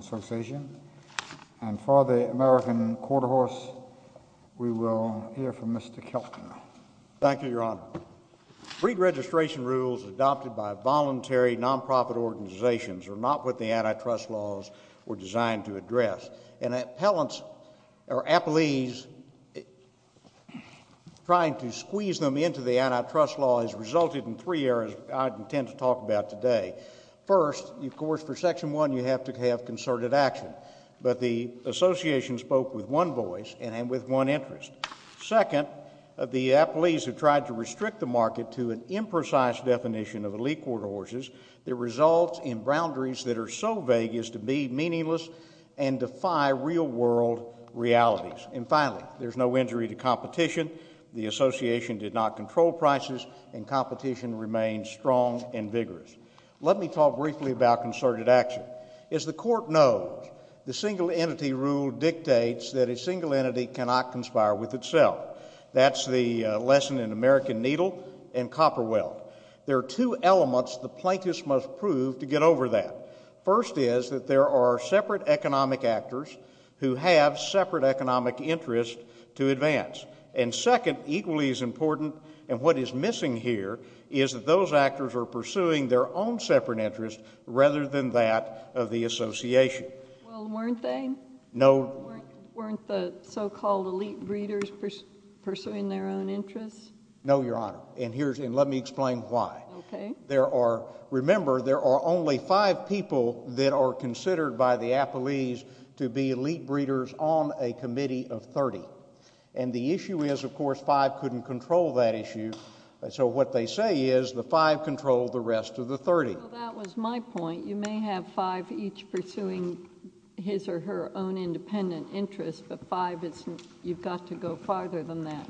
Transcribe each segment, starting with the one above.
Association, and for the American Quarter Horse, we will hear from Mr. Kelton. Thank you, Your Honor. Freed registration rules adopted by voluntary nonprofit organizations are not what the antitrust laws were designed to address, and appellees trying to squeeze them into the antitrust law has resulted in three areas I intend to talk about today. First, of course, for Section 1, you have to have concerted action, but the association spoke with one voice and with one interest. Second, the appellees have tried to restrict the market to an imprecise definition of elite quarter horses that results in boundaries that are so vague as to be meaningless and defy real-world realities. And finally, there is no injury to competition. The association did not control prices, and competition remains strong and vigorous. Let me talk briefly about concerted action. As the Court knows, the single entity rule dictates that a single entity cannot conspire with itself. That's the lesson in American Needle and Copperwell. There are two elements the plaintiffs must prove to get over that. First is that there are separate economic actors who have separate economic interests to advance. And second, equally as important, and what is missing here, is that those actors are pursuing their own separate interests rather than that of the association. Well, weren't they? No. Weren't the so-called elite breeders pursuing their own interests? No, Your Honor, and let me explain why. There are—remember, there are only five people that are considered by the appellees to be elite breeders on a committee of 30. And the issue is, of course, five couldn't control that issue, so what they say is the five control the rest of the 30. Well, that was my point. You may have five each pursuing his or her own independent interests, but five isn't—you've got to go farther than that.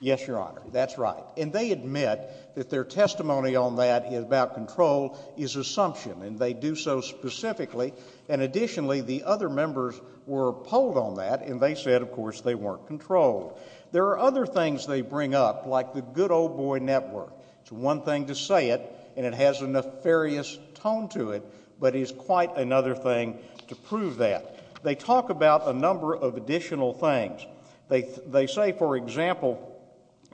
Yes, Your Honor, that's right. And they admit that their testimony on that about control is assumption, and they do so specifically, and additionally, the other members were polled on that, and they said, of course, they weren't controlled. There are other things they bring up, like the good old boy network. It's one thing to say it, and it has a nefarious tone to it, but it is quite another thing to prove that. They talk about a number of additional things. They say, for example,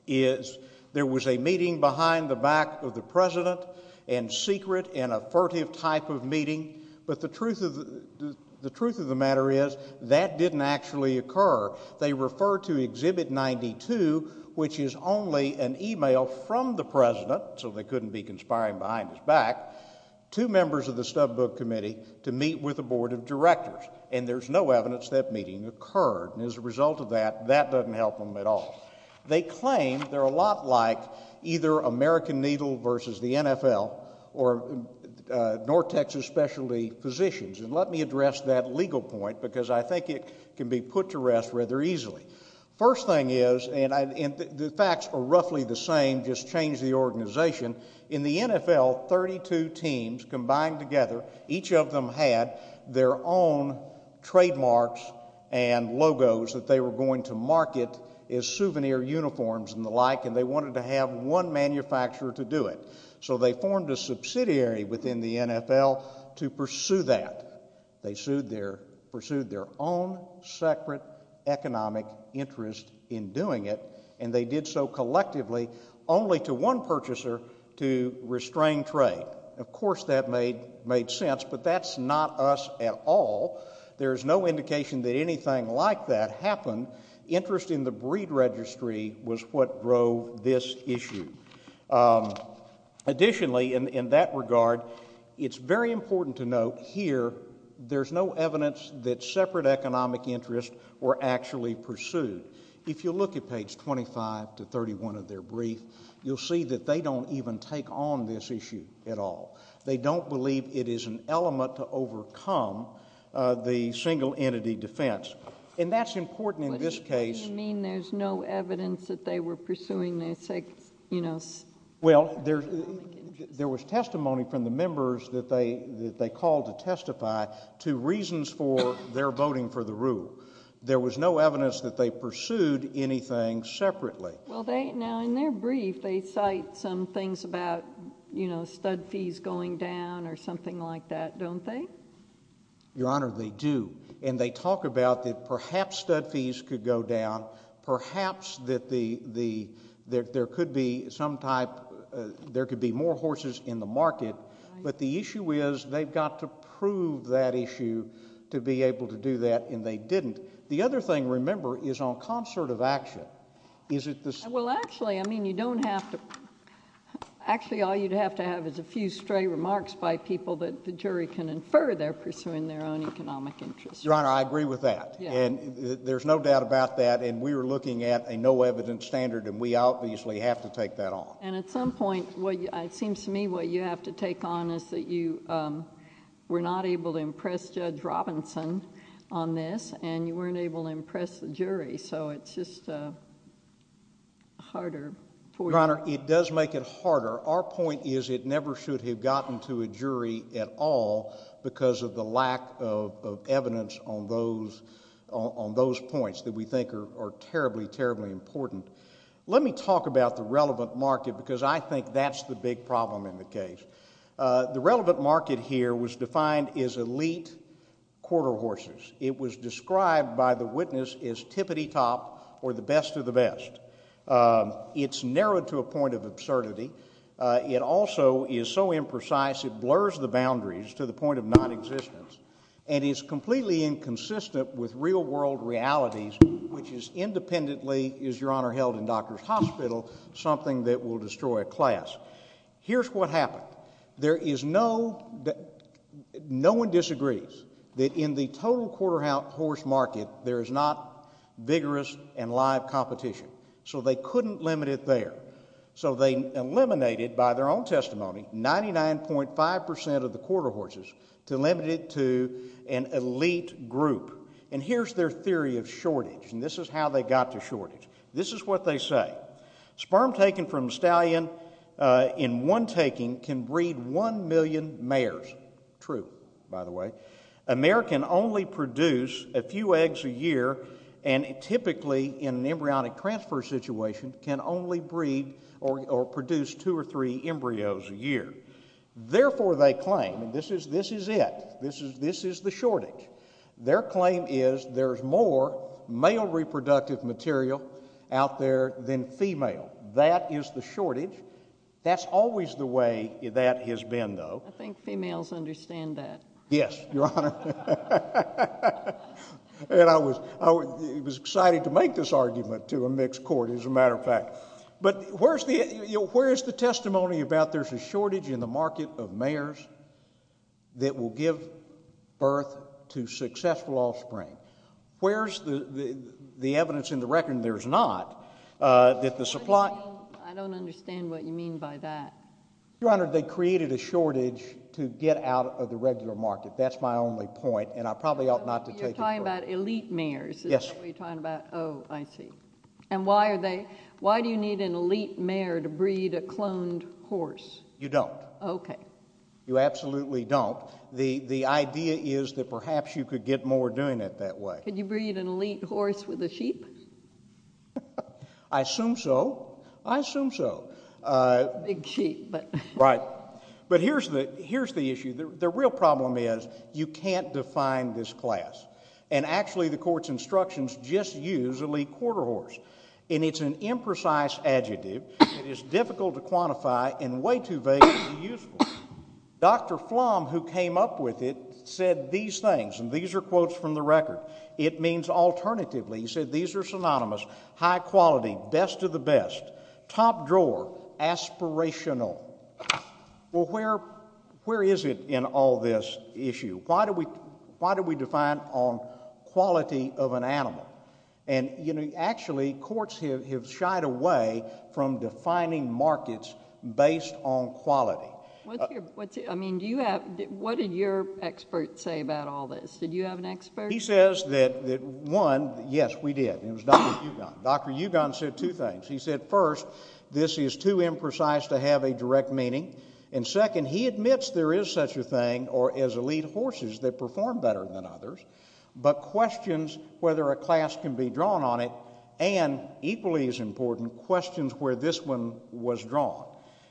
is there was a meeting behind the back of the president, and secret and a furtive type of meeting, but the truth of the matter is that didn't actually occur. They refer to Exhibit 92, which is only an email from the president, so they couldn't be conspiring behind his back, to members of the Stubbook Committee to meet with the help of that. That doesn't help them at all. They claim they're a lot like either American Needle versus the NFL, or North Texas Specialty Physicians. And let me address that legal point, because I think it can be put to rest rather easily. First thing is, and the facts are roughly the same, just change the organization. In the NFL, 32 teams combined together, each of them had their own trademarks and logos that they were going to market as souvenir uniforms and the like, and they wanted to have one manufacturer to do it. So they formed a subsidiary within the NFL to pursue that. They pursued their own separate economic interest in doing it, and they did so collectively only to one purchaser to restrain trade. Of course that made sense, but that's not us at all. There's no indication that anything like that happened. Interest in the breed registry was what drove this issue. Additionally, in that regard, it's very important to note here, there's no evidence that separate economic interests were actually pursued. If you look at page 25 to 31 of their brief, you'll see that they don't even take on this issue at all. They don't believe it is an element to overcome the single entity defense, and that's important in this case... What do you mean there's no evidence that they were pursuing their... Well, there was testimony from the members that they called to testify to reasons for their voting for the rule. There was no evidence that they pursued anything separately. Well, now in their brief, they cite some things about stud fees going down or something like that, don't they? Your Honor, they do, and they talk about that perhaps stud fees could go down, perhaps that there could be more horses in the market, but the issue is they've got to prove that issue to be able to do that, and they didn't. The other thing, remember, is on concert of action. Is it the... Well, actually, I mean, you don't have to... Actually, all you'd have to have is a few stray remarks by people that the jury can infer they're pursuing their own economic interests. Your Honor, I agree with that, and there's no doubt about that, and we were looking at a no evidence standard, and we obviously have to take that on. And at some point, it seems to me what you have to take on is that you were not able to impress Judge Robinson on this, and you weren't able to impress the jury, so it's just a harder... Your Honor, it does make it harder. Our point is it never should have gotten to a jury at all because of the lack of evidence on those points that we think are terribly, terribly important. Let me talk about the relevant market because I think that's the big problem in the case. The relevant market here was defined as elite quarter horses. It was described by the witness as tippity-top or the best of the best. It's narrowed to a point of absurdity. It also is so imprecise it blurs the boundaries to the point of nonexistence and is completely inconsistent with real world realities, which is independently, as Your Honor held in Doctors' Hospital, something that will destroy a class. Here's what happened. There is no... no one disagrees that in the total quarter horse market there is not vigorous and live competition, so they couldn't limit it there. So they eliminated, by their own testimony, 99.5 percent of the quarter horses to limit it to an elite group. And here's their theory of shortage, and this is how they got to shortage. This is what they say. Sperm taken from stallion in one taking can breed one million mares. True, by the way. A mare can only produce a few eggs a year and typically in an embryonic transfer situation can only breed or produce two or three embryos a year. Therefore they claim, and this is it, this is the shortage, their claim is there's more male reproductive material out there than female. That is the shortage. That's always the way that has been, though. I think females understand that. Yes, Your Honor. And I was excited to make this argument to a mixed court, as a matter of fact. But where's the testimony about there's a shortage in the market of mares that will give birth to successful offspring? Where's the evidence in the record that there's not, that the supply? I don't understand what you mean by that. Your Honor, they created a shortage to get out of the regular market. That's my only point, and I probably ought not to take it. You're talking about elite mares. Yes. Is that what you're talking about? Oh, I see. And why are they, why do you need an elite mare to breed a cloned horse? You don't. Okay. You absolutely don't. The idea is that perhaps you could get more doing it that way. Could you breed an elite horse with a sheep? I assume so. I assume so. A big sheep, but. Right. But here's the issue. The real problem is you can't define this class. And actually, the court's instructions just use elite quarter horse, and it's an imprecise adjective that is difficult to quantify and way too vague to be useful. Dr. Flom, who came up with it, said these things, and these are quotes from the record. It means alternatively, he said, these are synonymous. High quality, best of the best, top drawer, aspirational. Well, where is it in all this issue? Why do we define on quality of an animal? And actually, courts have shied away from defining markets based on quality. What's your, I mean, do you have, what did your expert say about all this? Did you have an expert? He says that one, yes, we did, and it was Dr. Ugon. Dr. Ugon said two things. He said, first, this is too imprecise to have a direct meaning, and second, he admits there is such a thing or as elite horses that perform better than others, but questions whether a class can be drawn on it, and equally as important, questions where this one was drawn.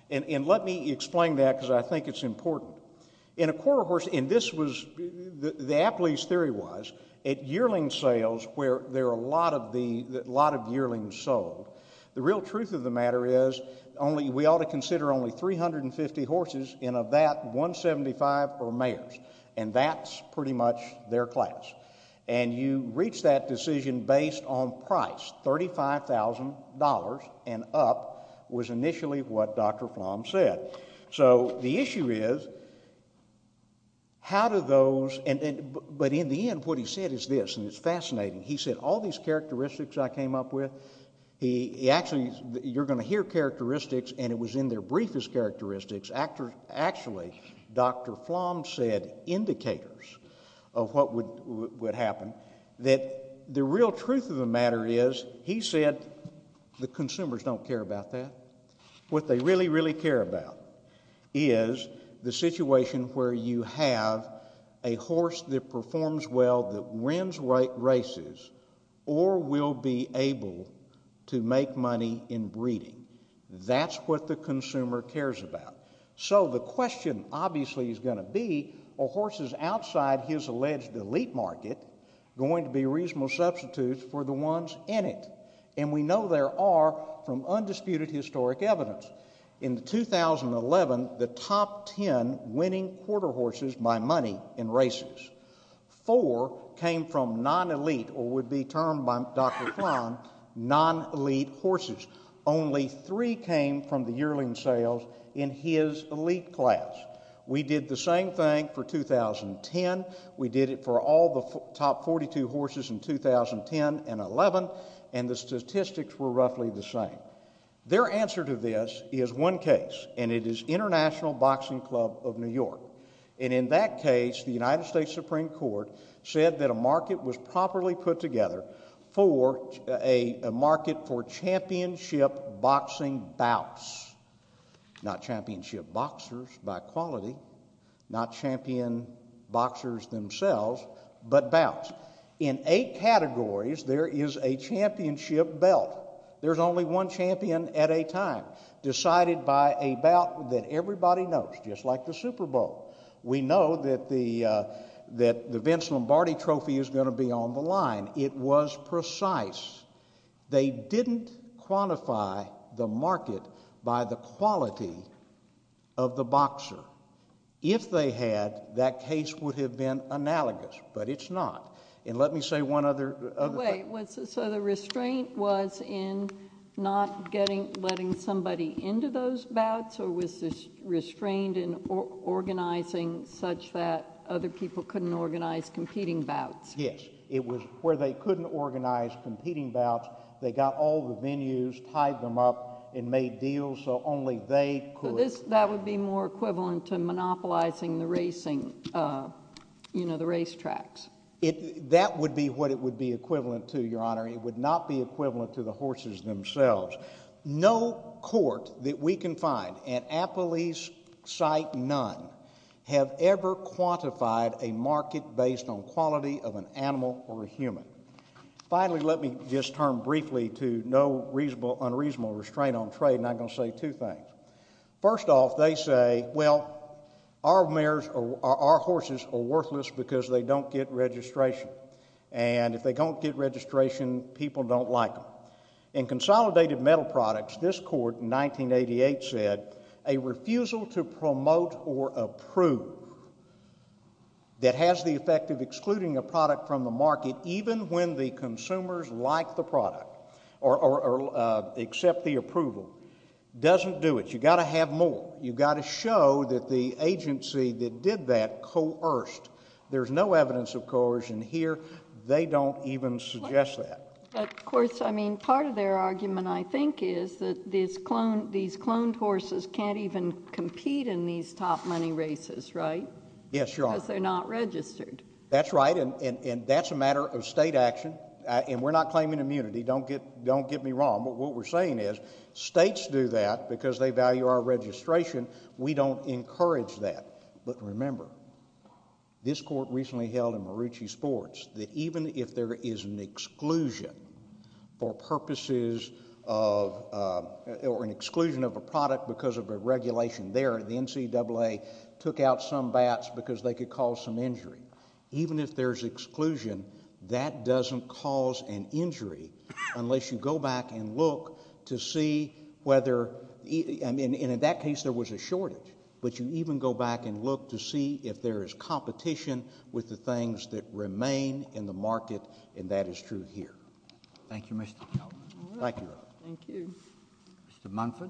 And let me explain that, because I think it's important. In a quarter horse, and this was, the Apley's theory was, at yearling sales, where there are a lot of yearlings sold, the real truth of the matter is, we ought to consider only 350 horses, and of that, 175 are mares, and that's pretty much their class. And you reach that decision based on price, $35,000 and up, was initially what Dr. Flom said. So, the issue is, how do those, but in the end, what he said is this, and it's fascinating. He said, all these characteristics I came up with, he actually, you're going to hear characteristics, and it was in their briefest characteristics, actually, Dr. Flom said indicators of what would happen, that the real truth of the matter is, he said, the consumers don't care about that. What they really, really care about is the situation where you have a horse that performs well, that wins races, or will be able to make money in breeding. That's what the consumer cares about. So, the question, obviously, is going to be, are horses outside his alleged elite market going to be reasonable substitutes for the ones in it? And we know there are, from undisputed historic evidence. In 2011, the top ten winning quarter horses by money in races, four came from non-elite, or would be termed by Dr. Flom, non-elite horses. Only three came from the yearling sales in his elite class. We did the same thing for 2010. We did it for all the top 42 horses in 2010 and 2011, and the statistics were roughly the same. Their answer to this is one case, and it is International Boxing Club of New York. And in that case, the United States Supreme Court said that a market was properly put in place for championship boxing bouts. Not championship boxers by quality, not champion boxers themselves, but bouts. In eight categories, there is a championship belt. There's only one champion at a time, decided by a bout that everybody knows, just like the Super Bowl. We know that the Vince Lombardi trophy is going to be on the line. It was precise. They didn't quantify the market by the quality of the boxer. If they had, that case would have been analogous, but it's not. And let me say one other thing. Wait, so the restraint was in not letting somebody into those bouts, or was this restrained in organizing such that other people couldn't organize competing bouts? Yes. It was where they couldn't organize competing bouts. They got all the venues, tied them up, and made deals so only they could. That would be more equivalent to monopolizing the racing, you know, the racetracks. That would be what it would be equivalent to, Your Honor. It would not be equivalent to the horses themselves. No court that we can find, at Appalachia site none, have ever quantified a market based on quality of an animal or a human. Finally, let me just turn briefly to no unreasonable restraint on trade, and I'm going to say two things. First off, they say, well, our horses are worthless because they don't get registration. And if they don't get registration, people don't like them. In Consolidated Metal Products, this court in 1988 said, a refusal to promote or approve that has the effect of excluding a product from the market, even when the consumers like the product or accept the approval, doesn't do it. You've got to have more. You've got to show that the agency that did that coerced. There's no evidence of coercion here. They don't even suggest that. Of course, I mean, part of their argument, I think, is that these cloned horses can't even compete in these top money races, right? Yes, Your Honor. Because they're not registered. That's right, and that's a matter of state action, and we're not claiming immunity. Don't get me wrong, but what we're saying is states do that because they value our registration. We don't encourage that. But remember, this court recently held in Marucci Sports that even if there is an exclusion for purposes of, or an exclusion of a product because of a regulation there, the NCAA took out some bats because they could cause some injury. Even if there's exclusion, that doesn't cause an injury unless you go back and look to see whether, and in that case, there was a shortage, but you even go back and look to see if there was a shortage. Thank you, Mr. Kelley. Thank you, Your Honor. Thank you. Mr. Munford.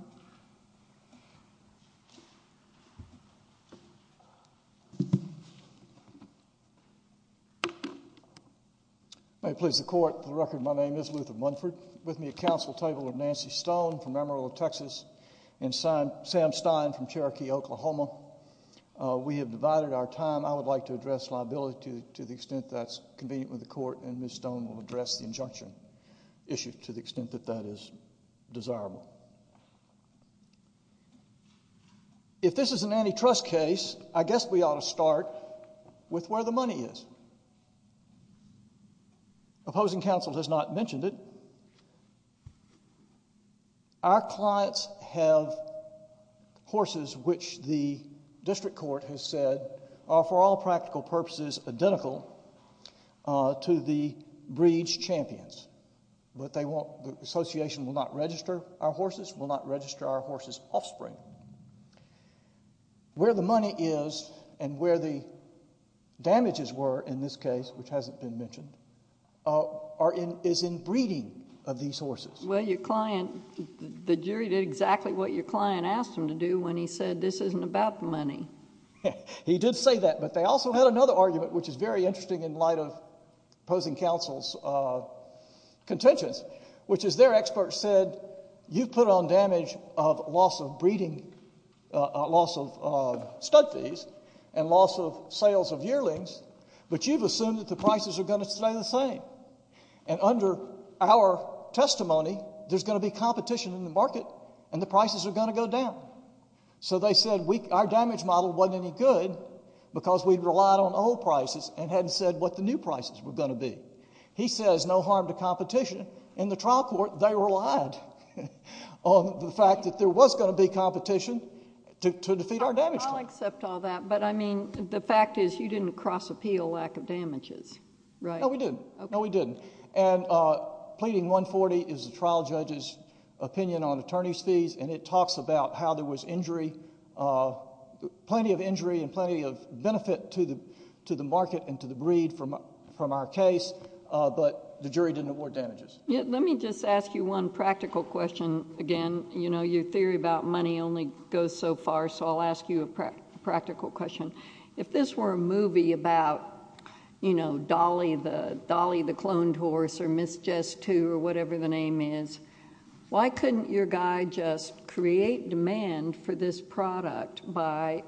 May it please the Court, for the record, my name is Luther Munford. With me at counsel, Tabler Nancy Stone from Amarillo, Texas, and Sam Stein from Cherokee, Oklahoma. We have divided our time. I would like to address liability to the extent that's convenient with the Court, and Ms. Stone Thank you. Thank you. Thank you. Thank you. Thank you. Thank you. Thank you. Thank you. Thank you. Thank you. Thank you. I would also like to address the financing issue to the extent that that is desirable. If this is an antitrust case, I guess we ought to start with where the money is. Opposing counsel has not mentioned it. Our clients have horses which the District Court has said are for all practical purposes identical to the breed's champions, but the association will not register our horses, will not register our horses' offspring. Where the money is and where the damages were in this case, which hasn't been mentioned, is in breeding of these horses. Well, your client, the jury did exactly what your client asked them to do when he said this isn't about the money. He did say that, but they also had another argument, which is very interesting in light of opposing counsel's contentions, which is their expert said, you've put on damage of loss of breeding, loss of stud fees, and loss of sales of yearlings, but you've assumed that the prices are going to stay the same. And under our testimony, there's going to be competition in the market and the prices are going to go down. So they said our damage model wasn't any good because we relied on old prices and hadn't said what the new prices were going to be. He says no harm to competition. In the trial court, they relied on the fact that there was going to be competition to defeat our damage. I'll accept all that, but I mean, the fact is you didn't cross appeal lack of damages, right? No, we didn't. No, we didn't. And pleading 140 is the trial judge's opinion on attorney's fees and it talks about how there was injury, plenty of injury and plenty of benefit to the market and to the breed from our case, but the jury didn't award damages. Yeah, let me just ask you one practical question again. You know, your theory about money only goes so far, so I'll ask you a practical question. If this were a movie about, you know, Dolly the cloned horse or Miss Just Two or whatever the name is, why couldn't your guy just create demand for this product by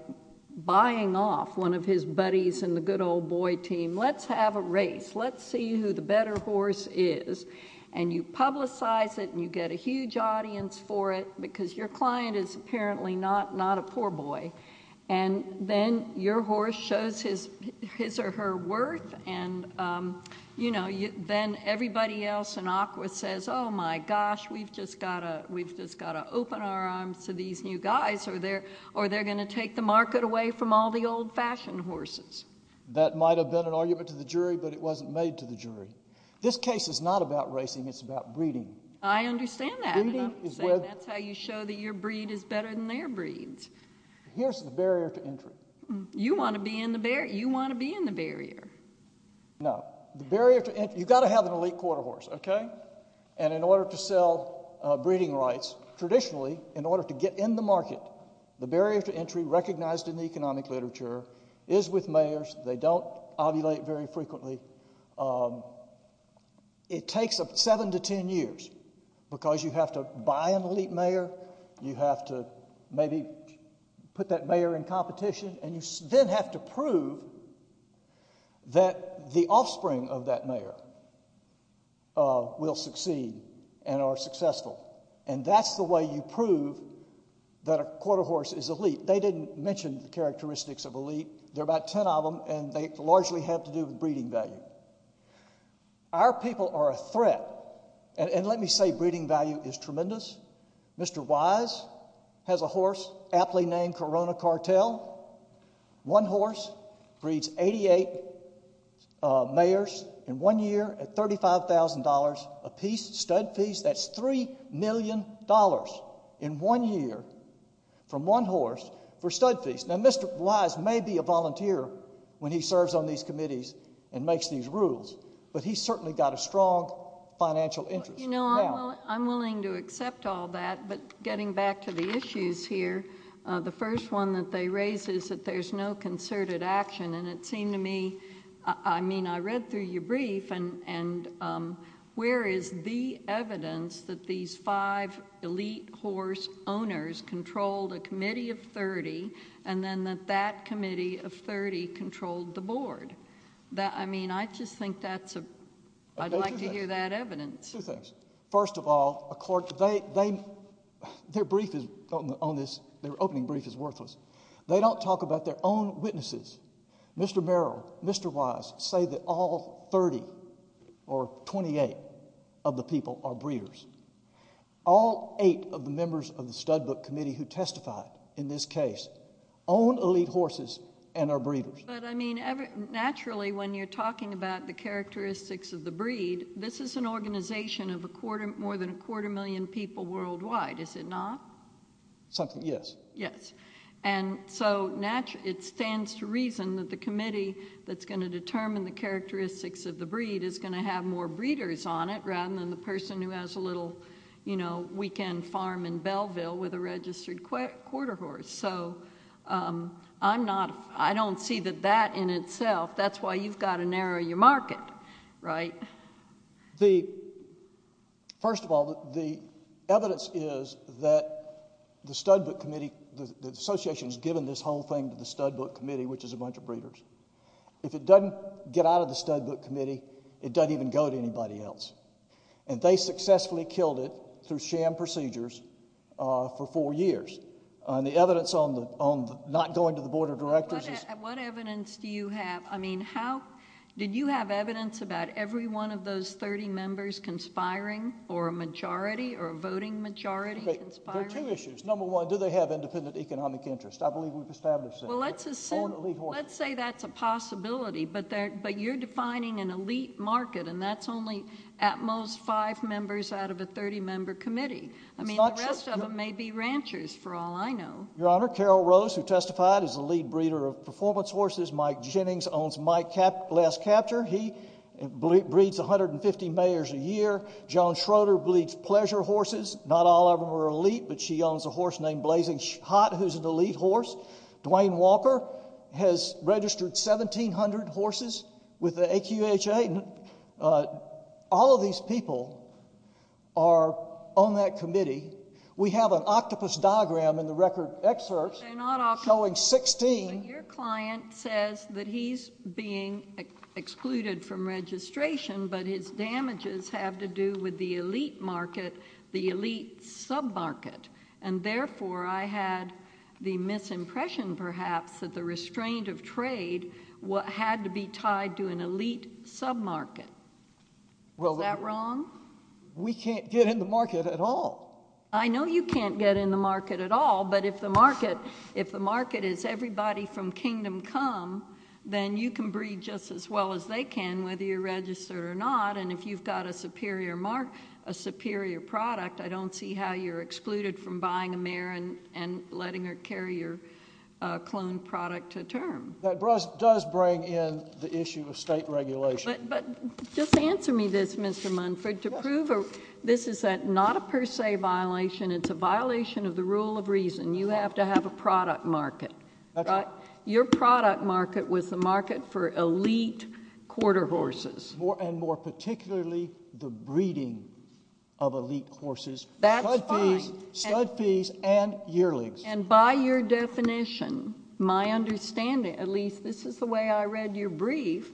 buying off one of his buddies in the good old boy team? Let's have a race. Let's see who the better horse is. And you publicize it and you get a huge audience for it because your client is apparently not a poor boy. And then your horse shows his or her worth and, you know, then everybody else in Aqua says, oh, my gosh, we've just got to open our arms to these new guys or they're going to take the market away from all the old fashioned horses. That might have been an argument to the jury, but it wasn't made to the jury. This case is not about racing. It's about breeding. I understand that. That's how you show that your breed is better than their breeds. Here's the barrier to entry. You want to be in the barrier. You want to be in the barrier. No. You've got to have an elite quarter horse, okay? And in order to sell breeding rights, traditionally, in order to get in the market, the barrier to entry recognized in the economic literature is with mayors. They don't ovulate very frequently. It takes seven to ten years because you have to buy an elite mayor, you have to maybe put that mayor in competition, and you then have to prove that the offspring of that mayor will succeed and are successful. And that's the way you prove that a quarter horse is elite. They didn't mention the characteristics of elite. There are about ten of them, and they largely have to do with breeding value. Our people are a threat, and let me say breeding value is tremendous. Mr. Wise has a horse aptly named Corona Cartel. One horse breeds 88 mayors in one year at $35,000 a piece, stud fees. That's $3 million in one year from one horse for stud fees. Now, Mr. Wise may be a volunteer when he serves on these committees and makes these rules, but he's certainly got a strong financial interest. You know, I'm willing to accept all that, but getting back to the issues here, the first one that they raise is that there's no concerted action, and it seemed to me, I mean, I read through your brief, and where is the evidence that these five elite horse owners controlled a committee of 30, and then that that committee of 30 controlled the board? I mean, I just think that's a, I'd like to hear that evidence. Two things. First of all, a court, they, their brief is on this, their opening brief is worthless. They don't talk about their own witnesses. Mr. Merrill, Mr. Wise say that all 30 or 28 of the people are breeders. All eight of the members of the stud book committee who testified in this case own elite horses and are breeders. But I mean, naturally, when you're talking about the characteristics of the breed, this is an organization of a quarter, more than a quarter million people worldwide, is it not? Something, yes. Yes. And so, naturally, it stands to reason that the committee that's going to determine the characteristics of the breed is going to have more breeders on it, rather than the person who has a little, you know, weekend farm in Belleville with a registered quarter horse. So I'm not, I don't see that that in itself, that's why you've got to narrow your market, right? The, first of all, the evidence is that the stud book committee, the association has given this whole thing to the stud book committee, which is a bunch of breeders. If it doesn't get out of the stud book committee, it doesn't even go to anybody else. And they successfully killed it through sham procedures for four years. The evidence on the, on the not going to the board of directors is... What evidence do you have? I mean, how, did you have evidence about every one of those 30 members conspiring or a majority or a voting majority conspiring? There are two issues. Number one, do they have independent economic interest? I believe we've established that. Well, let's assume, let's say that's a possibility, but you're defining an elite market, and that's only at most five members out of a 30 member committee. I mean, the rest of them may be ranchers, for all I know. Your Honor, Carol Rose, who testified, is the lead breeder of performance horses. Mike Jennings owns Mike Glass Capture. He breeds 150 mares a year. Joan Schroeder breeds pleasure horses. Not all of them are elite, but she owns a horse named Blazing Hot, who's an elite horse. Dwayne Walker has registered 1,700 horses with the AQHA. All of these people are on that committee. We have an octopus diagram in the record excerpts showing 16. Your client says that he's being excluded from registration, but his damages have to do with the elite market, the elite sub-market. And therefore, I had the misimpression, perhaps, that the restraint of trade had to be tied to an elite sub-market. Is that wrong? We can't get in the market at all. I know you can't get in the market at all. But if the market is everybody from kingdom come, then you can breed just as well as they can, whether you're registered or not, and if you've got a superior product, I don't see how you're excluded from buying a mare and letting her carry your cloned product to term. That does bring in the issue of state regulation. But just answer me this, Mr. Munford, to prove this is not a per se violation, it's a violation of the rule of reason. You have to have a product market. Your product market was the market for elite quarter horses. And more particularly, the breeding of elite horses, stud fees and yearlings. And by your definition, my understanding, at least this is the way I read your brief,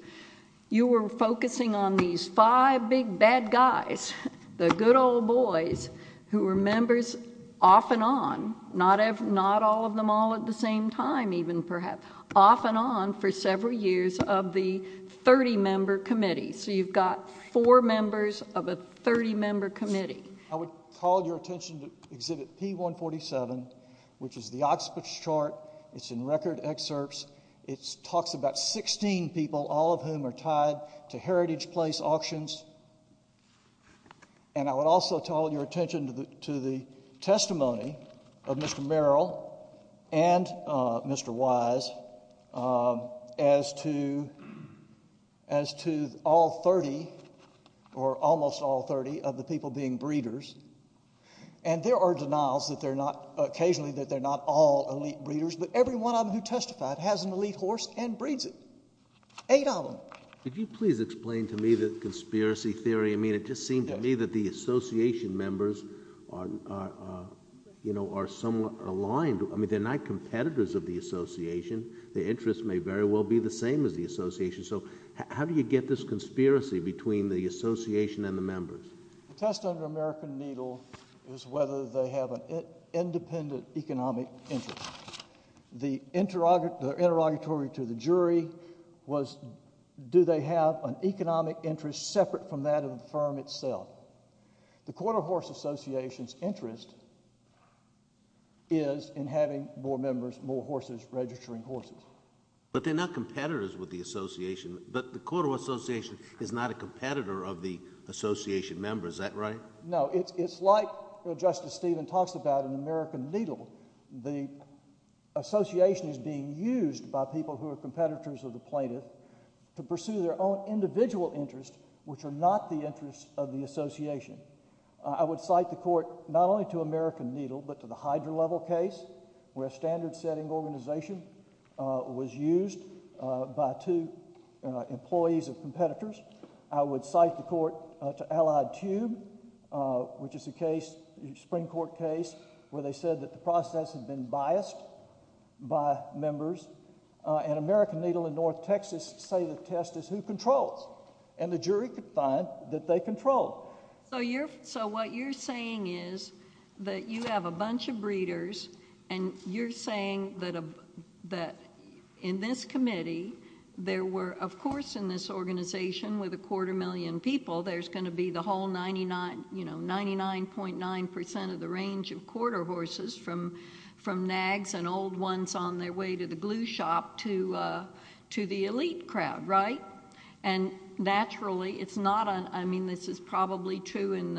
you were focusing on these five big bad guys, the good old boys, who were members off and on, not all of them all at the same time even perhaps, off and on for several years of the 30-member committee. So you've got four members of a 30-member committee. I would call your attention to Exhibit P147, which is the Oxford chart. It's in record excerpts. It talks about 16 people, all of whom are tied to heritage place auctions. And I would also call your attention to the testimony of Mr. Merrill and Mr. Wise as to all 30, or almost all 30, of the people being breeders. And there are denials that they're not, occasionally that they're not all elite breeders, but every one of them who testified has an elite horse and breeds it, eight of them. Could you please explain to me the conspiracy theory? I mean, it just seemed to me that the association members are, you know, are somewhat aligned. I mean, they're not competitors of the association. The interest may very well be the same as the association. So how do you get this conspiracy between the association and the members? The test of the American needle is whether they have an independent economic interest. The interrogatory to the jury was, do they have an economic interest separate from that of the firm itself? The Quarter Horse Association's interest is in having more members, more horses registering horses. But they're not competitors with the association, but the Quarter Horse Association is not a competitor of the association members, is that right? No, it's like Justice Stephen talks about in American Needle. The association is being used by people who are competitors of the plaintiff to pursue their own individual interests, which are not the interests of the association. I would cite the court not only to American Needle, but to the Hydra level case where a standard setting organization was used by two employees of competitors. I would cite the court to Allied Tube, which is a case, a Supreme Court case, where they said that the process had been biased by members. And American Needle and North Texas say the test is who controls. And the jury could find that they control. So what you're saying is that you have a bunch of breeders, and you're saying that in this organization with a quarter million people, there's going to be the whole 99.9% of the range of quarter horses from nags and old ones on their way to the glue shop to the elite crowd, right? And naturally, it's not, I mean, this is probably true in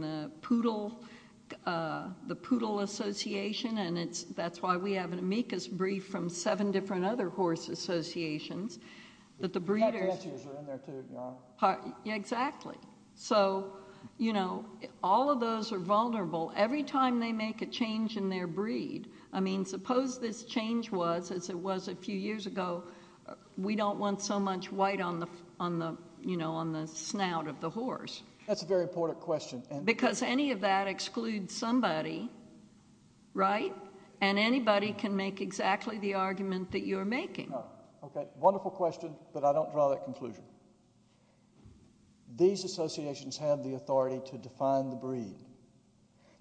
the Poodle Association, and that's why we have an amicus brief from seven different other horse associations that the breeders are in there, too, you know? Yeah, exactly. So, you know, all of those are vulnerable. Every time they make a change in their breed, I mean, suppose this change was, as it was a few years ago, we don't want so much white on the, you know, on the snout of the horse. That's a very important question. Because any of that excludes somebody, right? And anybody can make exactly the argument that you're making. Okay, wonderful question, but I don't draw that conclusion. These associations have the authority to define the breed.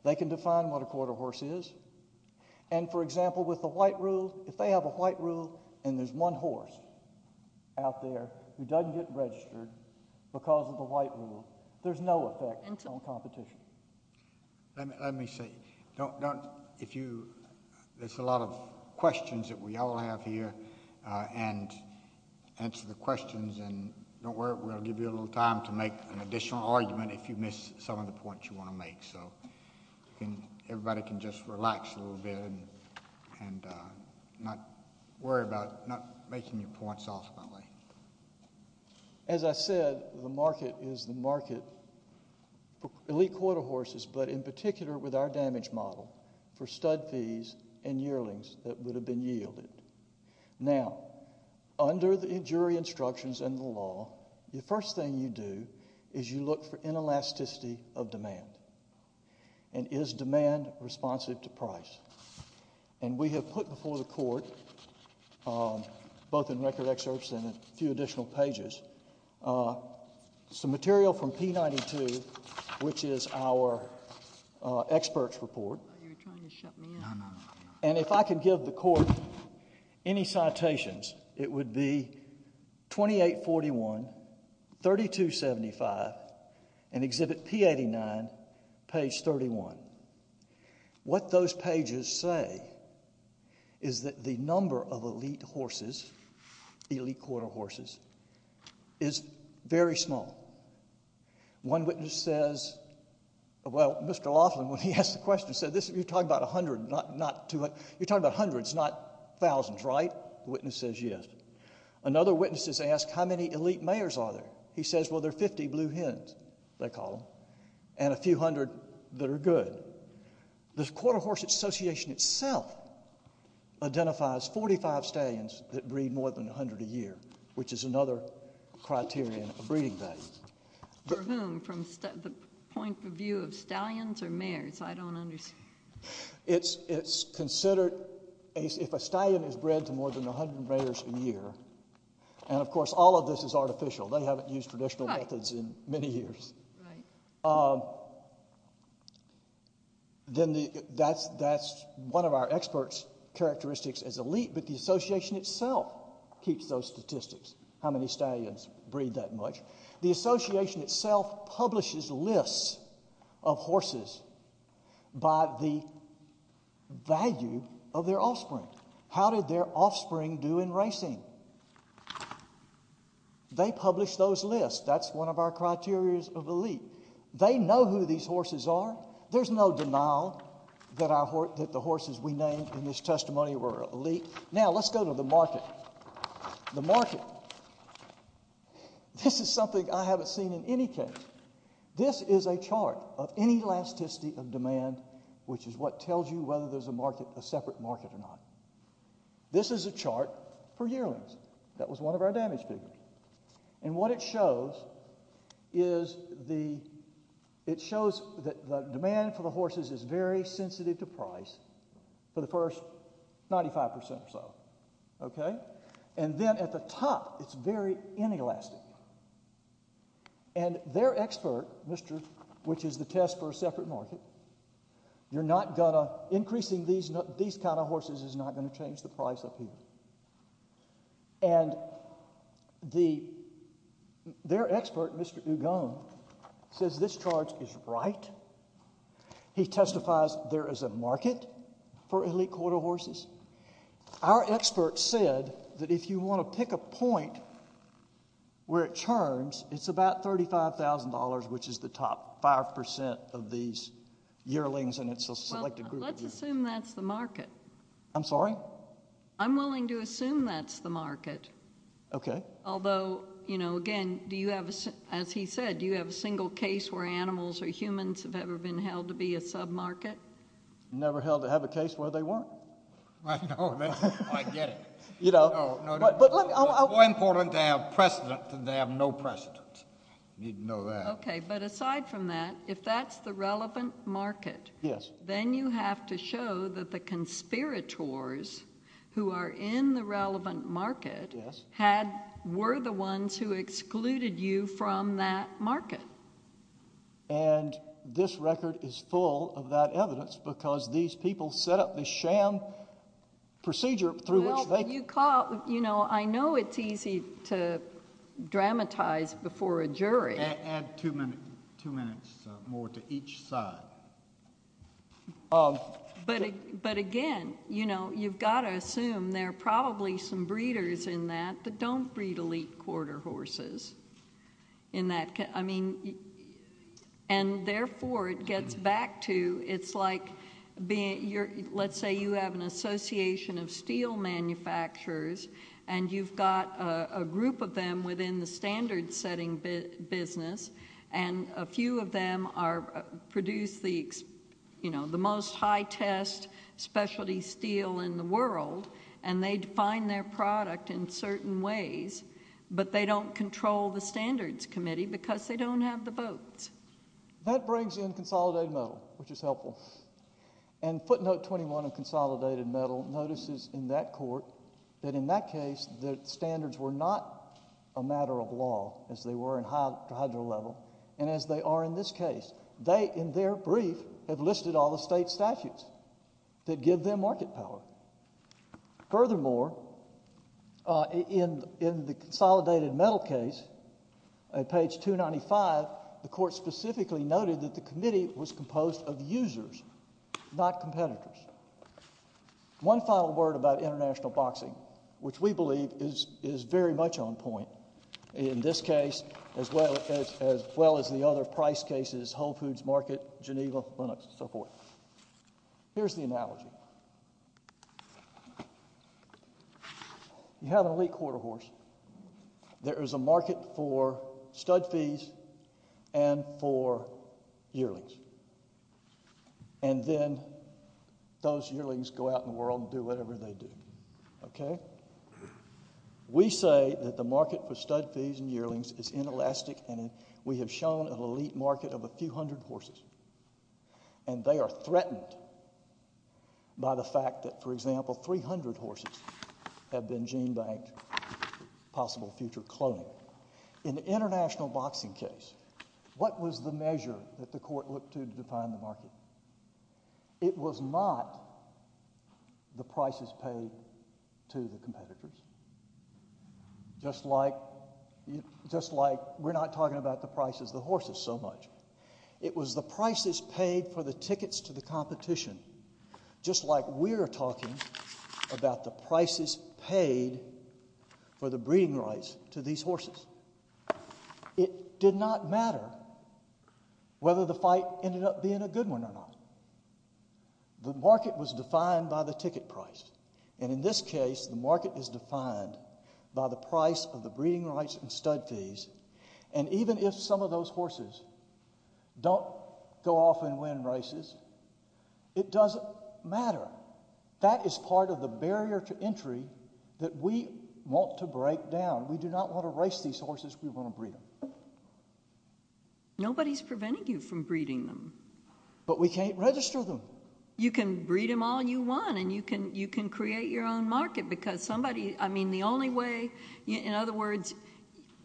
They can define what a quarter horse is, and for example, with the white rule, if they have a white rule, and there's one horse out there who doesn't get registered because of the white rule, there's no effect on competition. Let me say, don't, if you, there's a lot of questions that we all have here, and answer the questions, and don't worry, we'll give you a little time to make an additional argument if you miss some of the points you want to make. So everybody can just relax a little bit and not worry about not making your points ultimately. As I said, the market is the market for elite quarter horses, but in particular with our damage model, for stud fees and yearlings that would have been yielded. Now, under the jury instructions and the law, the first thing you do is you look for inelasticity of demand, and is demand responsive to price? And we have put before the court, both in record excerpts and a few additional pages, some material from P92, which is our expert's report, and if I can give the court any citations, it would be 2841, 3275, and exhibit P89, page 31. What those pages say is that the number of elite horses, elite quarter horses, is very small. One witness says, well, Mr. Laughlin, when he asked the question, said, you're talking about 100, not 200, you're talking about hundreds, not thousands, right? The witness says yes. Another witness has asked, how many elite mayors are there? He says, well, there are 50 blue hens, they call them, and a few hundred that are good. The Quarter Horses Association itself identifies 45 stallions that breed more than 100 a year, which is another criterion of breeding values. For whom, from the point of view of stallions or mayors, I don't understand. It's considered, if a stallion is bred to more than 100 mayors a year, and of course all of this is artificial, they haven't used traditional methods in many years, then that's one of our experts' characteristics as elite, but the Association itself keeps those statistics, how many stallions breed that much. The Association itself publishes lists of horses by the value of their offspring. How did their offspring do in racing? They publish those lists, that's one of our criterias of elite. They know who these horses are, there's no denial that the horses we named in this testimony were elite. Now, let's go to the market. The market. This is something I haven't seen in any case. This is a chart of any elasticity of demand, which is what tells you whether there's a separate market or not. This is a chart for yearlings. That was one of our damage figures. And what it shows is that the demand for the horses is very sensitive to price for the first 95% or so. And then at the top, it's very inelastic. And their expert, which is the test for a separate market, you're not going to, increasing these kind of horses is not going to change the price of people. And their expert, Mr. Dugone, says this chart is right. He testifies there is a market for elite quarter horses. Our expert said that if you want to pick a point where it churns, it's about $35,000, which is the top 5% of these yearlings, and it's a selected group of yearlings. Let's assume that's the market. I'm sorry? I'm willing to assume that's the market. Okay. Although, you know, again, as he said, do you have a single case where animals or humans have ever been held to be a sub-market? Never held to have a case where they weren't. I know. I get it. You know. No, no. It's more important to have precedent than to have no precedent. You need to know that. Okay. But aside from that, if that's the relevant market, then you have to show that the conspirators who are in the relevant market were the ones who excluded you from that market. And this record is full of that evidence because these people set up this sham procedure through which they... You know, I know it's easy to dramatize before a jury. Add two minutes more to each side. But, again, you know, you've got to assume there are probably some breeders in that that don't breed elite quarter horses in that... I mean... And, therefore, it gets back to... It's like, let's say you have an association of steel manufacturers and you've got a group of them within the standard-setting business, and a few of them produce the most high-test specialty steel in the world, and they define their product in certain ways, but they don't control the standards committee because they don't have the votes. That brings in consolidated metal, which is helpful. And footnote 21 of consolidated metal notices in that court that in that case the standards were not a matter of law, as they were in hydro level, and as they are in this case. They, in their brief, have listed all the state statutes that give them market power. Furthermore, in the consolidated metal case, at page 295, the court specifically noted that the committee was composed of users, not competitors. One final word about international boxing, which we believe is very much on point in this case, as well as the other price cases—Whole Foods Market, Geneva, Linux, and so forth. Here's the analogy. You have an elite quarter horse. There is a market for stud fees and for yearlings. And then those yearlings go out in the world and do whatever they do, okay? We say that the market for stud fees and yearlings is inelastic, and we have shown an elite market of a few hundred horses, and they are threatened by the fact that, for example, 300 horses have been gene banked for possible future cloning. In the international boxing case, what was the measure that the court looked to to define the market? It was not the prices paid to the competitors, just like we're not talking about the prices the horses so much. It was the prices paid for the tickets to the competition, just like we're talking about the prices paid for the breeding rights to these horses. It did not matter whether the fight ended up being a good one or not. The market was defined by the ticket price, and in this case, the market is defined by the price of the breeding rights and stud fees, and even if some of those horses don't go off and win races, it doesn't matter. That is part of the barrier to entry that we want to break down. We do not want to race these horses, we want to breed them. Nobody's preventing you from breeding them. But we can't register them. You can breed them all you want, and you can create your own market, because somebody, I mean, the only way, in other words,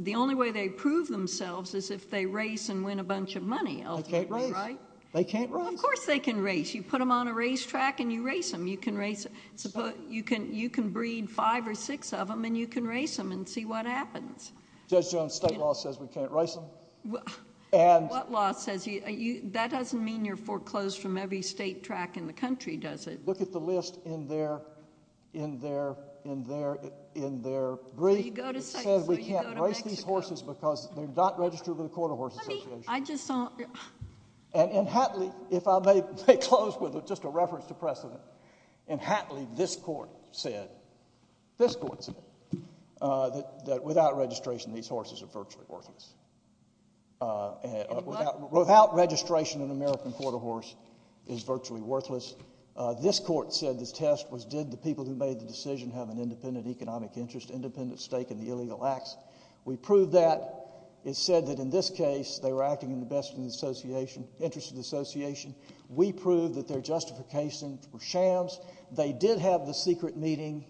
the only way they prove themselves is if they race and win a bunch of money, ultimately, right? They can't race. They can't race. Of course they can race. You put them on a racetrack and you race them. You can breed five or six of them and you can race them and see what happens. Judge Jones' state law says we can't race them. What law says? That doesn't mean you're foreclosed from every state track in the country, does it? If you look at the list in their brief, it says we can't race these horses because they're not registered with the Quarter Horse Association. And in Hatley, if I may close with just a reference to precedent, in Hatley, this court said, this court said, that without registration, these horses are virtually worthless. Without registration, an American Quarter Horse is virtually worthless. This court said this test was, did the people who made the decision have an independent economic interest, independent stake in the illegal acts? We proved that. It said that in this case, they were acting in the best interest of the association. We proved that their justifications were shams. They did have the secret meeting.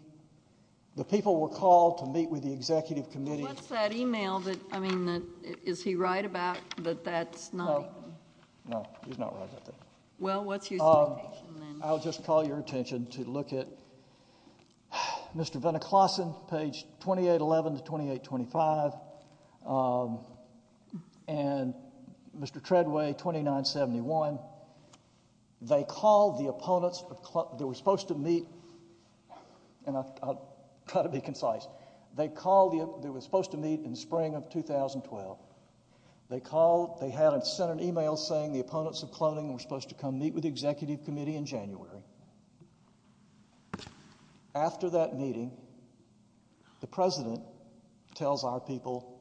The people were called to meet with the executive committee. What's that email that, I mean, is he right about that that's not even? No, he's not right about that. Well, what's your citation then? I'll just call your attention to look at Mr. Veniklason, page 2811 to 2825, and Mr. Treadway, 2971. They called the opponents that were supposed to meet, and I'll try to be concise. They called, they were supposed to meet in spring of 2012. They called, they had sent an email saying the opponents of cloning were supposed to come meet with the executive committee in January. After that meeting, the president tells our people,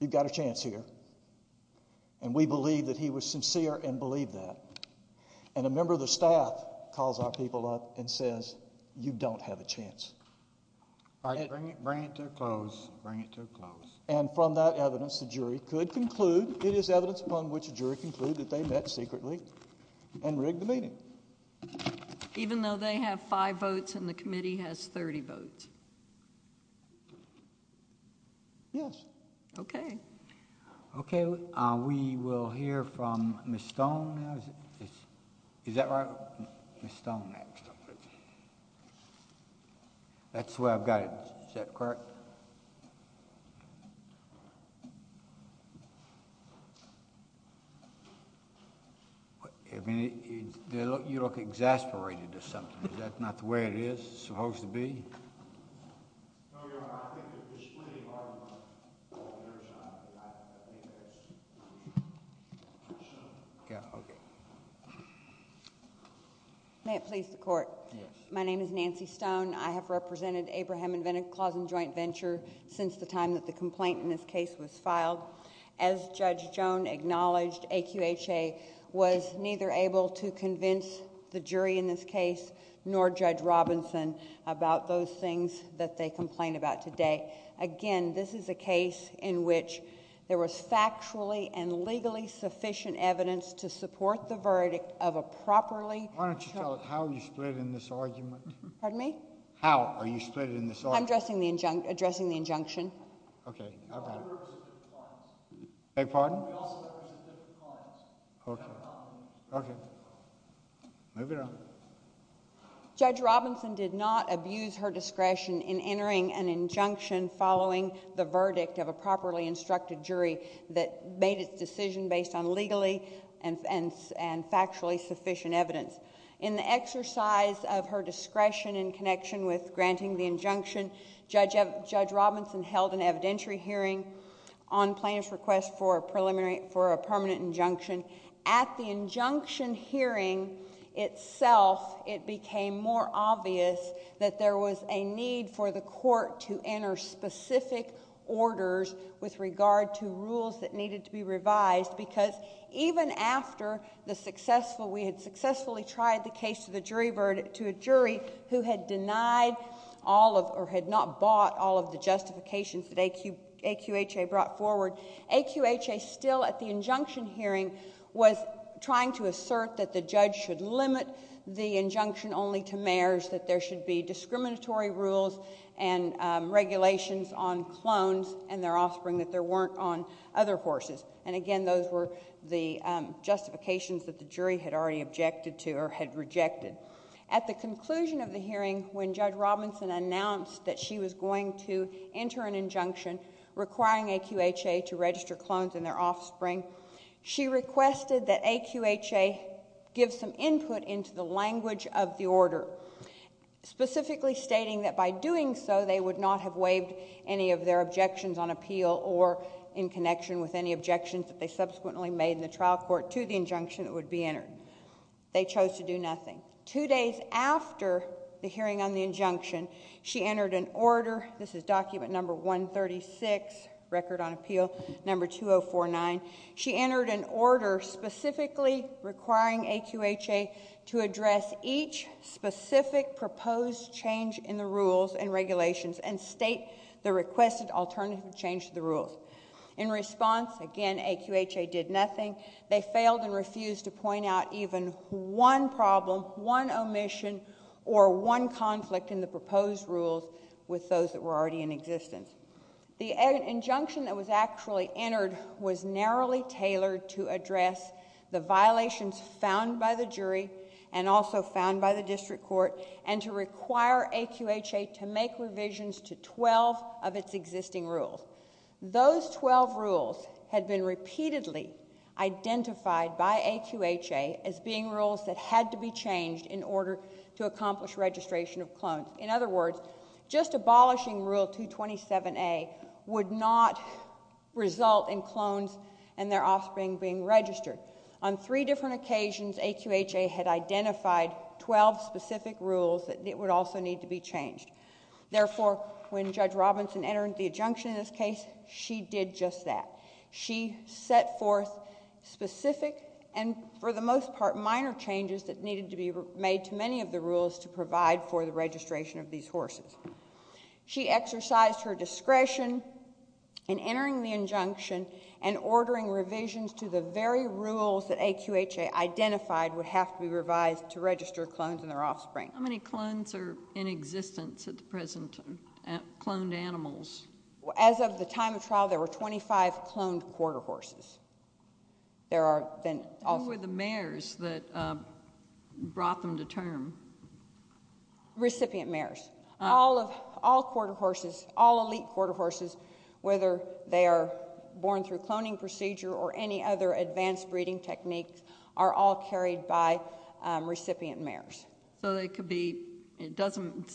you've got a chance here. And we believe that he was sincere and believed that. And a member of the staff calls our people up and says, you don't have a chance. All right, bring it to a close, bring it to a close. And from that evidence, the jury could conclude, it is evidence upon which a jury could conclude that they met secretly and rigged the meeting. Even though they have five votes and the committee has 30 votes? Yes. Okay. Okay, we will hear from Ms. Stone now. Is that right? Ms. Stone next. That's the way I've got it, is that correct? You look exasperated or something. Is that not the way it is supposed to be? No, Your Honor. I think it's pretty hard. Yeah, okay. May it please the court. My name is Nancy Stone. I have represented Abraham and Wendell Clausen Joint Venture since the time that the complaint in this case was filed. As Judge Joan acknowledged, AQHA was neither able to convince the jury in this case, nor Judge Robinson, about those things that they complain about today. Again, this is a case in which there was factually and legally sufficient evidence to support the verdict of a properly- I'm sorry, Your Honor. I'm sorry, Your Honor. I'm sorry, Your Honor. I'm sorry, Your Honor. You are not going to split it in this argument? Pardon me? How are you splitting it in this argument? I'm addressing the injunction. Okay. Okay. We also represent different clients. Beg your pardon? We also represent different clients. Okay. Okay. Move it on. Judge Robinson did not abuse her discretion in entering an injunction following the verdict of a properly-instructed jury that made its decision based on legally and factually sufficient evidence. In the exercise of her discretion in connection with granting the injunction, Judge Robinson held an evidentiary hearing on plaintiff's request for a permanent injunction. At the injunction hearing itself, it became more obvious that there was a need for the court to enter specific orders with regard to rules that needed to be revised because even after we had successfully tried the case to a jury who had denied all of or had not bought all of the justifications that AQHA brought forward, AQHA, still at the injunction hearing, was trying to assert that the judge should limit the injunction only to mayors, that there should be discriminatory rules and regulations on clones and their offspring, that there weren't on other horses. And again, those were the justifications that the jury had already objected to or had rejected. At the conclusion of the hearing, when Judge Robinson announced that she was going to enter an injunction requiring AQHA to register clones and their offspring, she requested that AQHA give some input into the language of the order, specifically stating that by doing so, they would not have waived any of their objections on appeal or in connection with any objections that they subsequently made in the trial court to the injunction that would be entered. They chose to do nothing. Two days after the hearing on the injunction, she entered an order. This is document number 136, record on appeal, number 2049. She entered an order specifically requiring AQHA to address each specific proposed change in the rules and regulations and state the requested alternative change to the rules. In response, again, AQHA did nothing. They failed and refused to point out even one problem, one omission, or one conflict in the proposed rules with those that were already in existence. The injunction that was actually entered was narrowly tailored to address the violations found by the jury and also found by the district court and to require AQHA to make revisions to 12 of its existing rules. Those 12 rules had been repeatedly identified by AQHA as being rules that had to be changed in order to accomplish registration of clones. In other words, just abolishing Rule 227A would not result in clones and their offspring being registered. On three different occasions, AQHA had identified 12 specific rules that would also need to be changed. Therefore, when Judge Robinson entered the injunction in this case, she did just that. She set forth specific and, for the most part, minor changes that needed to be made to many of the rules to provide for the registration of these horses. She exercised her discretion in entering the injunction and ordering revisions to the very rules that AQHA identified would have to be revised to register clones and their offspring. How many clones are in existence at the present time, cloned animals? As of the time of trial, there were 25 cloned quarter horses. There are then also— Who were the mares that brought them to term? Recipient mares. All quarter horses, all elite quarter horses, whether they are born through cloning procedure or any other advanced breeding techniques, are all carried by recipient mares. So it doesn't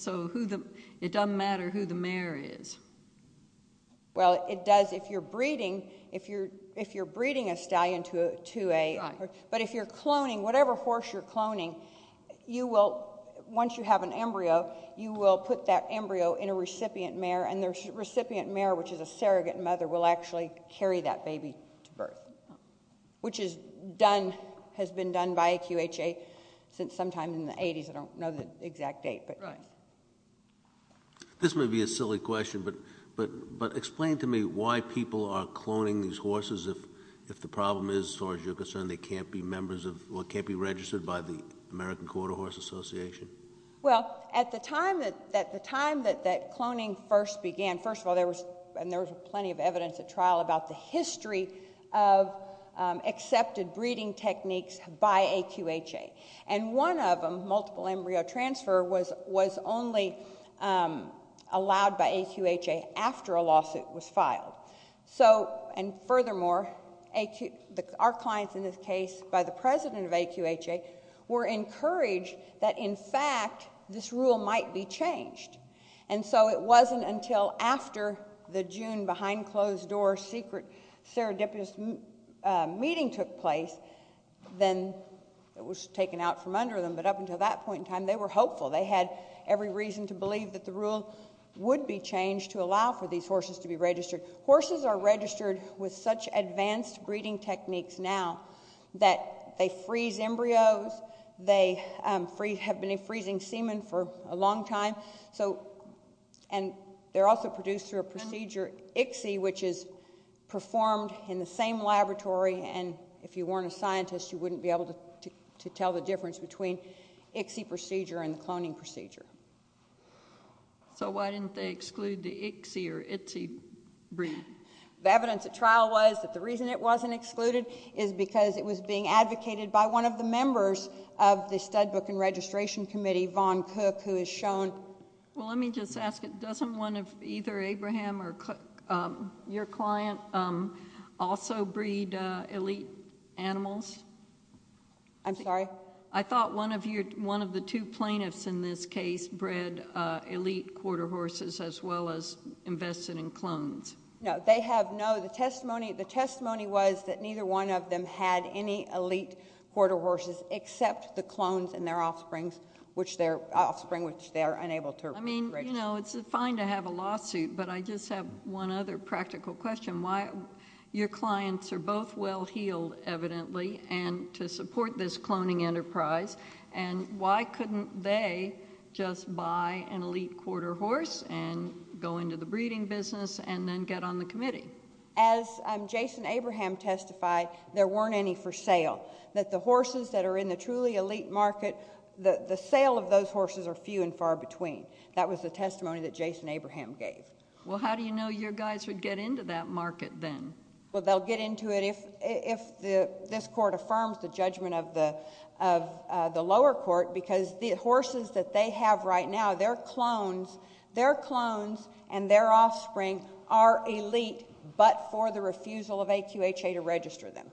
matter who the mare is? Well, it does if you're breeding a stallion to a— Right. But if you're cloning, whatever horse you're cloning, once you have an embryo, you will put that embryo in a recipient mare, and the recipient mare, which is a surrogate mother, will actually carry that baby to birth, which has been done by AQHA since sometime in the 80s. I don't know the exact date. This may be a silly question, but explain to me why people are cloning these horses if the problem is, as far as you're concerned, they can't be registered by the American Quarter Horse Association? Well, at the time that cloning first began— and there was plenty of evidence at trial about the history of accepted breeding techniques by AQHA. And one of them, multiple embryo transfer, was only allowed by AQHA after a lawsuit was filed. So, and furthermore, our clients in this case, by the president of AQHA, were encouraged that, in fact, this rule might be changed. And so it wasn't until after the June behind-closed-door secret serendipitous meeting took place, then it was taken out from under them. But up until that point in time, they were hopeful. They had every reason to believe that the rule would be changed to allow for these horses to be registered. Horses are registered with such advanced breeding techniques now that they freeze embryos, they have been freezing semen for a long time. So, and they're also produced through a procedure, ICSI, which is performed in the same laboratory. And if you weren't a scientist, you wouldn't be able to tell the difference between ICSI procedure and the cloning procedure. So why didn't they exclude the ICSI or ITSI breed? The evidence at trial was that the reason it wasn't excluded is because it was being advocated by one of the members of the Stud Book and Registration Committee, Vaughn Cook, who has shown— Well, let me just ask, doesn't one of either Abraham or Cook, your client, also breed elite animals? I'm sorry? I thought one of the two plaintiffs in this case bred elite quarter horses as well as invested in clones. No, they have no—the testimony was that neither one of them had any elite quarter horses except the clones in their offspring, which they are unable to— I mean, you know, it's fine to have a lawsuit, but I just have one other practical question. Why—your clients are both well-heeled, evidently, and to support this cloning enterprise, and why couldn't they just buy an elite quarter horse and go into the breeding business and then get on the committee? As Jason Abraham testified, there weren't any for sale. That the horses that are in the truly elite market, the sale of those horses are few and far between. That was the testimony that Jason Abraham gave. Well, how do you know your guys would get into that market then? Well, they'll get into it if this court affirms the judgment of the lower court, because the horses that they have right now, their clones and their offspring are elite but for the refusal of AQHA to register them.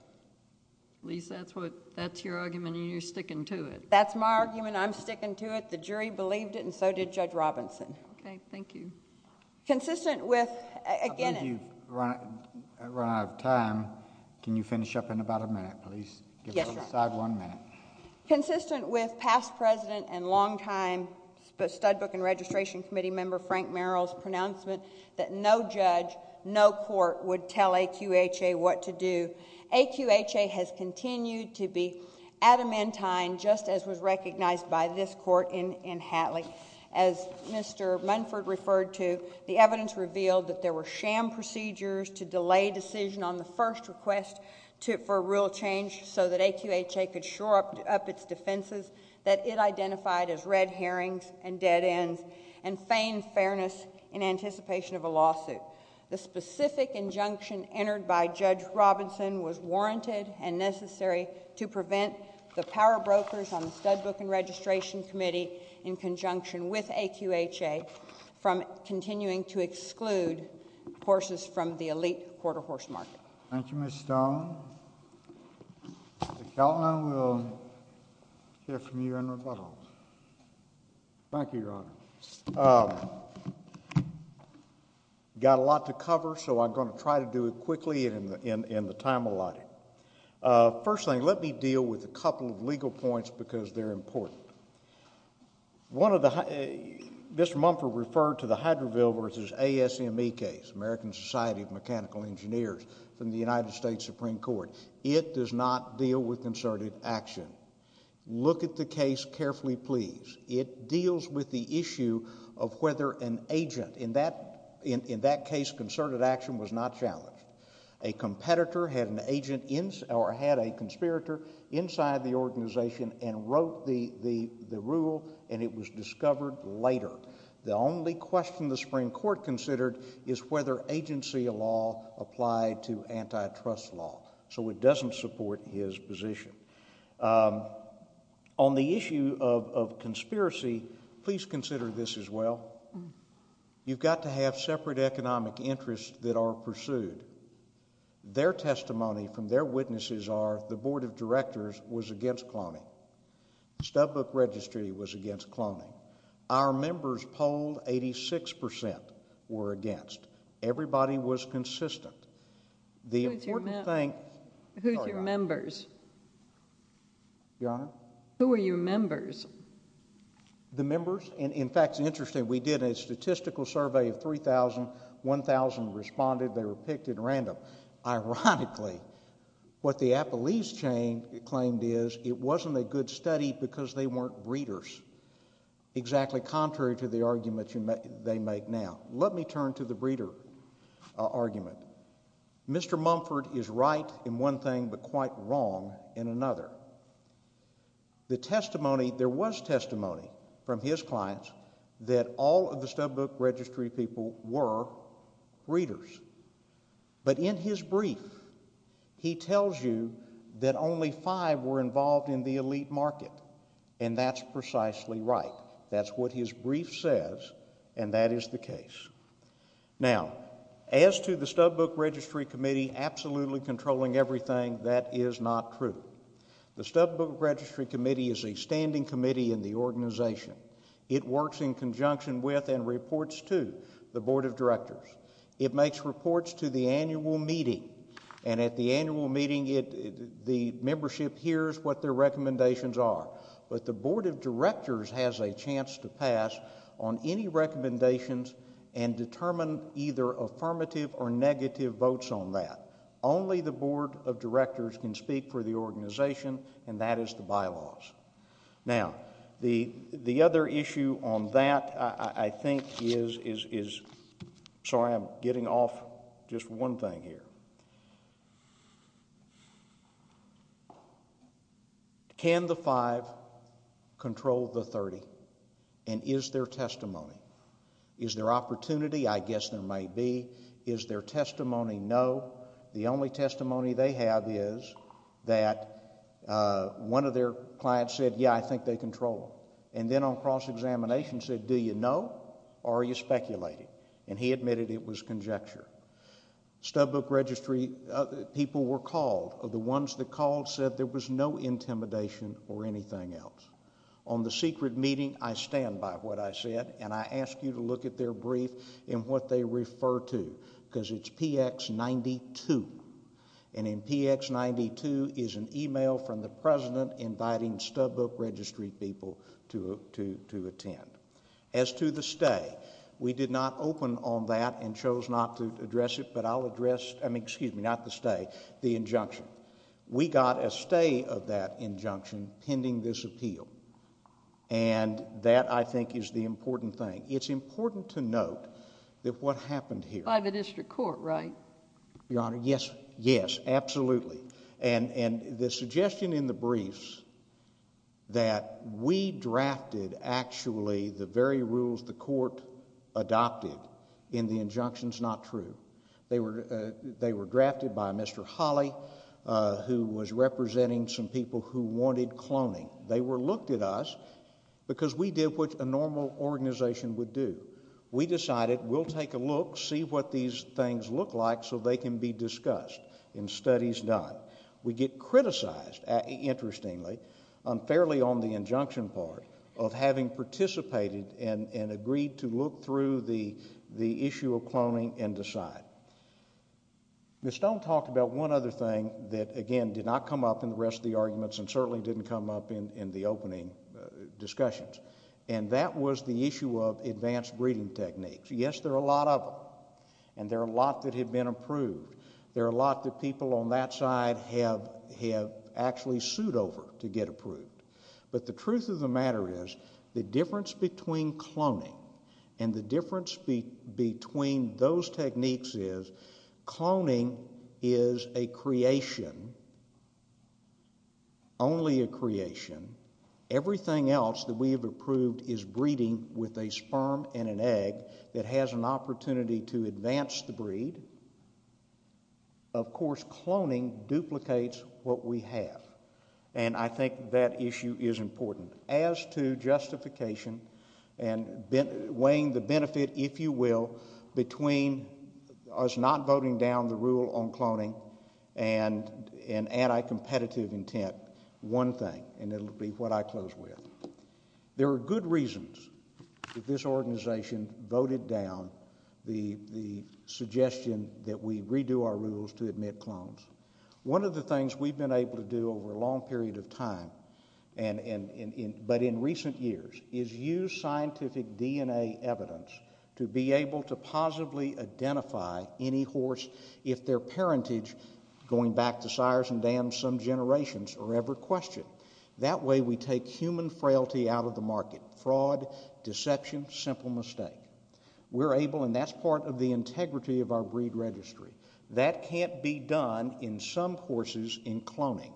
Lisa, that's what—that's your argument, and you're sticking to it? That's my argument. I'm sticking to it. The jury believed it, and so did Judge Robinson. Okay. Thank you. Consistent with— I believe you've run out of time. Can you finish up in about a minute, please? Yes, Your Honor. Give the side one minute. Consistent with past president and longtime Studbook and Registration Committee member Frank Merrill's pronouncement that no judge, no court would tell AQHA what to do, AQHA has continued to be adamantine, just as was recognized by this court in Hatley. As Mr. Munford referred to, the evidence revealed that there were sham procedures to up its defenses that it identified as red herrings and dead ends and feigned fairness in anticipation of a lawsuit. The specific injunction entered by Judge Robinson was warranted and necessary to prevent the power brokers on the Studbook and Registration Committee, in conjunction with AQHA, from continuing to exclude horses from the elite quarter horse market. Thank you, Ms. Stone. Mr. Keltner, we will hear from you in rebuttal. Thank you, Your Honor. Got a lot to cover, so I'm going to try to do it quickly in the time allotted. First thing, let me deal with a couple of legal points because they're important. Mr. Munford referred to the Hydroville versus ASME case, American Society of Mechanical Engineers, from the United States Supreme Court. It does not deal with concerted action. Look at the case carefully, please. It deals with the issue of whether an agent... in that case, concerted action was not challenged. A competitor had an agent or had a conspirator inside the organization and wrote the rule and it was discovered later. The only question the Supreme Court considered is whether agency law applied to antitrust law, so it doesn't support his position. On the issue of conspiracy, please consider this as well. You've got to have separate economic interests that are pursued. Their testimony from their witnesses are the Board of Directors was against cloning. Studbook Registry was against cloning. Our members polled, 86 percent were against. Everybody was consistent. The important thing... Who's your members? Your Honor? Who are your members? The members... in fact, it's interesting. We did a statistical survey of 3,000. 1,000 responded. They were picked at random. Ironically, what the Appalachia chain claimed is it wasn't a good study because they weren't breeders. Exactly contrary to the argument they make now. Let me turn to the breeder argument. Mr. Mumford is right in one thing but quite wrong in another. The testimony... there was testimony from his clients that all of the Studbook Registry people were breeders, but in his brief, he tells you that only five were involved in the elite market and that's precisely right. That's what his brief says and that is the case. Now, as to the Studbook Registry Committee absolutely controlling everything, that is not true. The Studbook Registry Committee is a standing committee in the organization. It works in conjunction with and reports to the Board of Directors. It makes reports to the annual meeting and at the annual meeting, the membership hears what their recommendations are. But the Board of Directors has a chance to pass on any recommendations and determine either affirmative or negative votes on that. Only the Board of Directors can speak for the organization and that is the bylaws. Now, the other issue on that I think is... sorry, I'm getting off just one thing here. Can the five control the 30 and is there testimony? Is there opportunity? I guess there may be. Is there testimony? No. The only testimony they have is that one of their clients said, yeah, I think they control it. And then on cross-examination said, do you know or are you speculating? And he admitted it was conjecture. Stubbook Registry people were called. The ones that called said there was no intimidation or anything else. On the secret meeting, I stand by what I said and I ask you to look at their brief and what they refer to because it's PX 92. And in PX 92 is an email from the President inviting Stubbook Registry people to attend. As to the stay, we did not open on that and chose not to address it, but I'll address, I mean, excuse me, not the stay, the injunction. We got a stay of that injunction pending this appeal. And that I think is the important thing. It's important to note that what happened here... By the district court, right? Your Honor, yes. Yes, absolutely. And the suggestion in the briefs that we drafted actually the very rules the court adopted in the injunctions not true. They were drafted by Mr. Hawley who was representing some people who wanted cloning. They were looked at us because we did what a normal organization would do. We decided we'll take a look, see what these things look like so they can be discussed and studies done. We get criticized, interestingly, unfairly on the injunction part of having participated and agreed to look through the issue of cloning and decide. Ms. Stone talked about one other thing that, again, did not come up in the rest of the arguments and certainly didn't come up in the opening discussions. And that was the issue of advanced breeding techniques. Yes, there are a lot of them. And there are a lot that have been approved. There are a lot that people on that side have actually sued over to get approved. But the truth of the matter is the difference between cloning and the difference between those techniques is cloning is a creation, only a creation. Everything else that we have approved is breeding with a sperm and an egg that has an opportunity to advance the breed. Of course, cloning duplicates what we have. And I think that issue is important. As to justification and weighing the benefit, if you will, between us not voting down the rule on cloning and anti-competitive intent, one thing, and it'll be what I close with. There are good reasons that this organization voted down the suggestion that we redo our rules to admit clones. One of the things we've been able to do over a long period of time, but in recent years, is use scientific DNA evidence to be able to positively identify any horse if their parentage, going back to Cyrus and Dan some generations, are ever questioned. That way we take human frailty out of the market. Fraud, deception, simple mistake. We're able, and that's part of the integrity of our breed registry. That can't be done in some horses in cloning.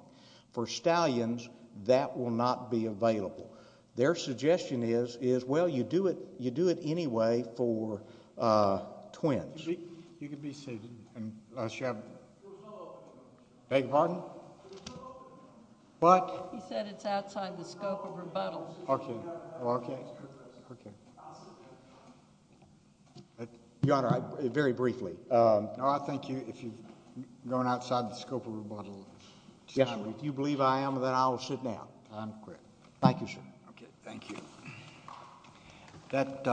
For stallions, that will not be available. Their suggestion is, well, you do it anyway for twins. You can be seated. And, uh, Sheriff? Beg your pardon? What? He said it's outside the scope of rebuttal. Okay, okay, okay. Your Honor, I, very briefly. Um, no, I thank you. If you're going outside the scope of rebuttal, if you believe I am, then I will sit down. Thank you, sir. Okay, thank you. That, uh.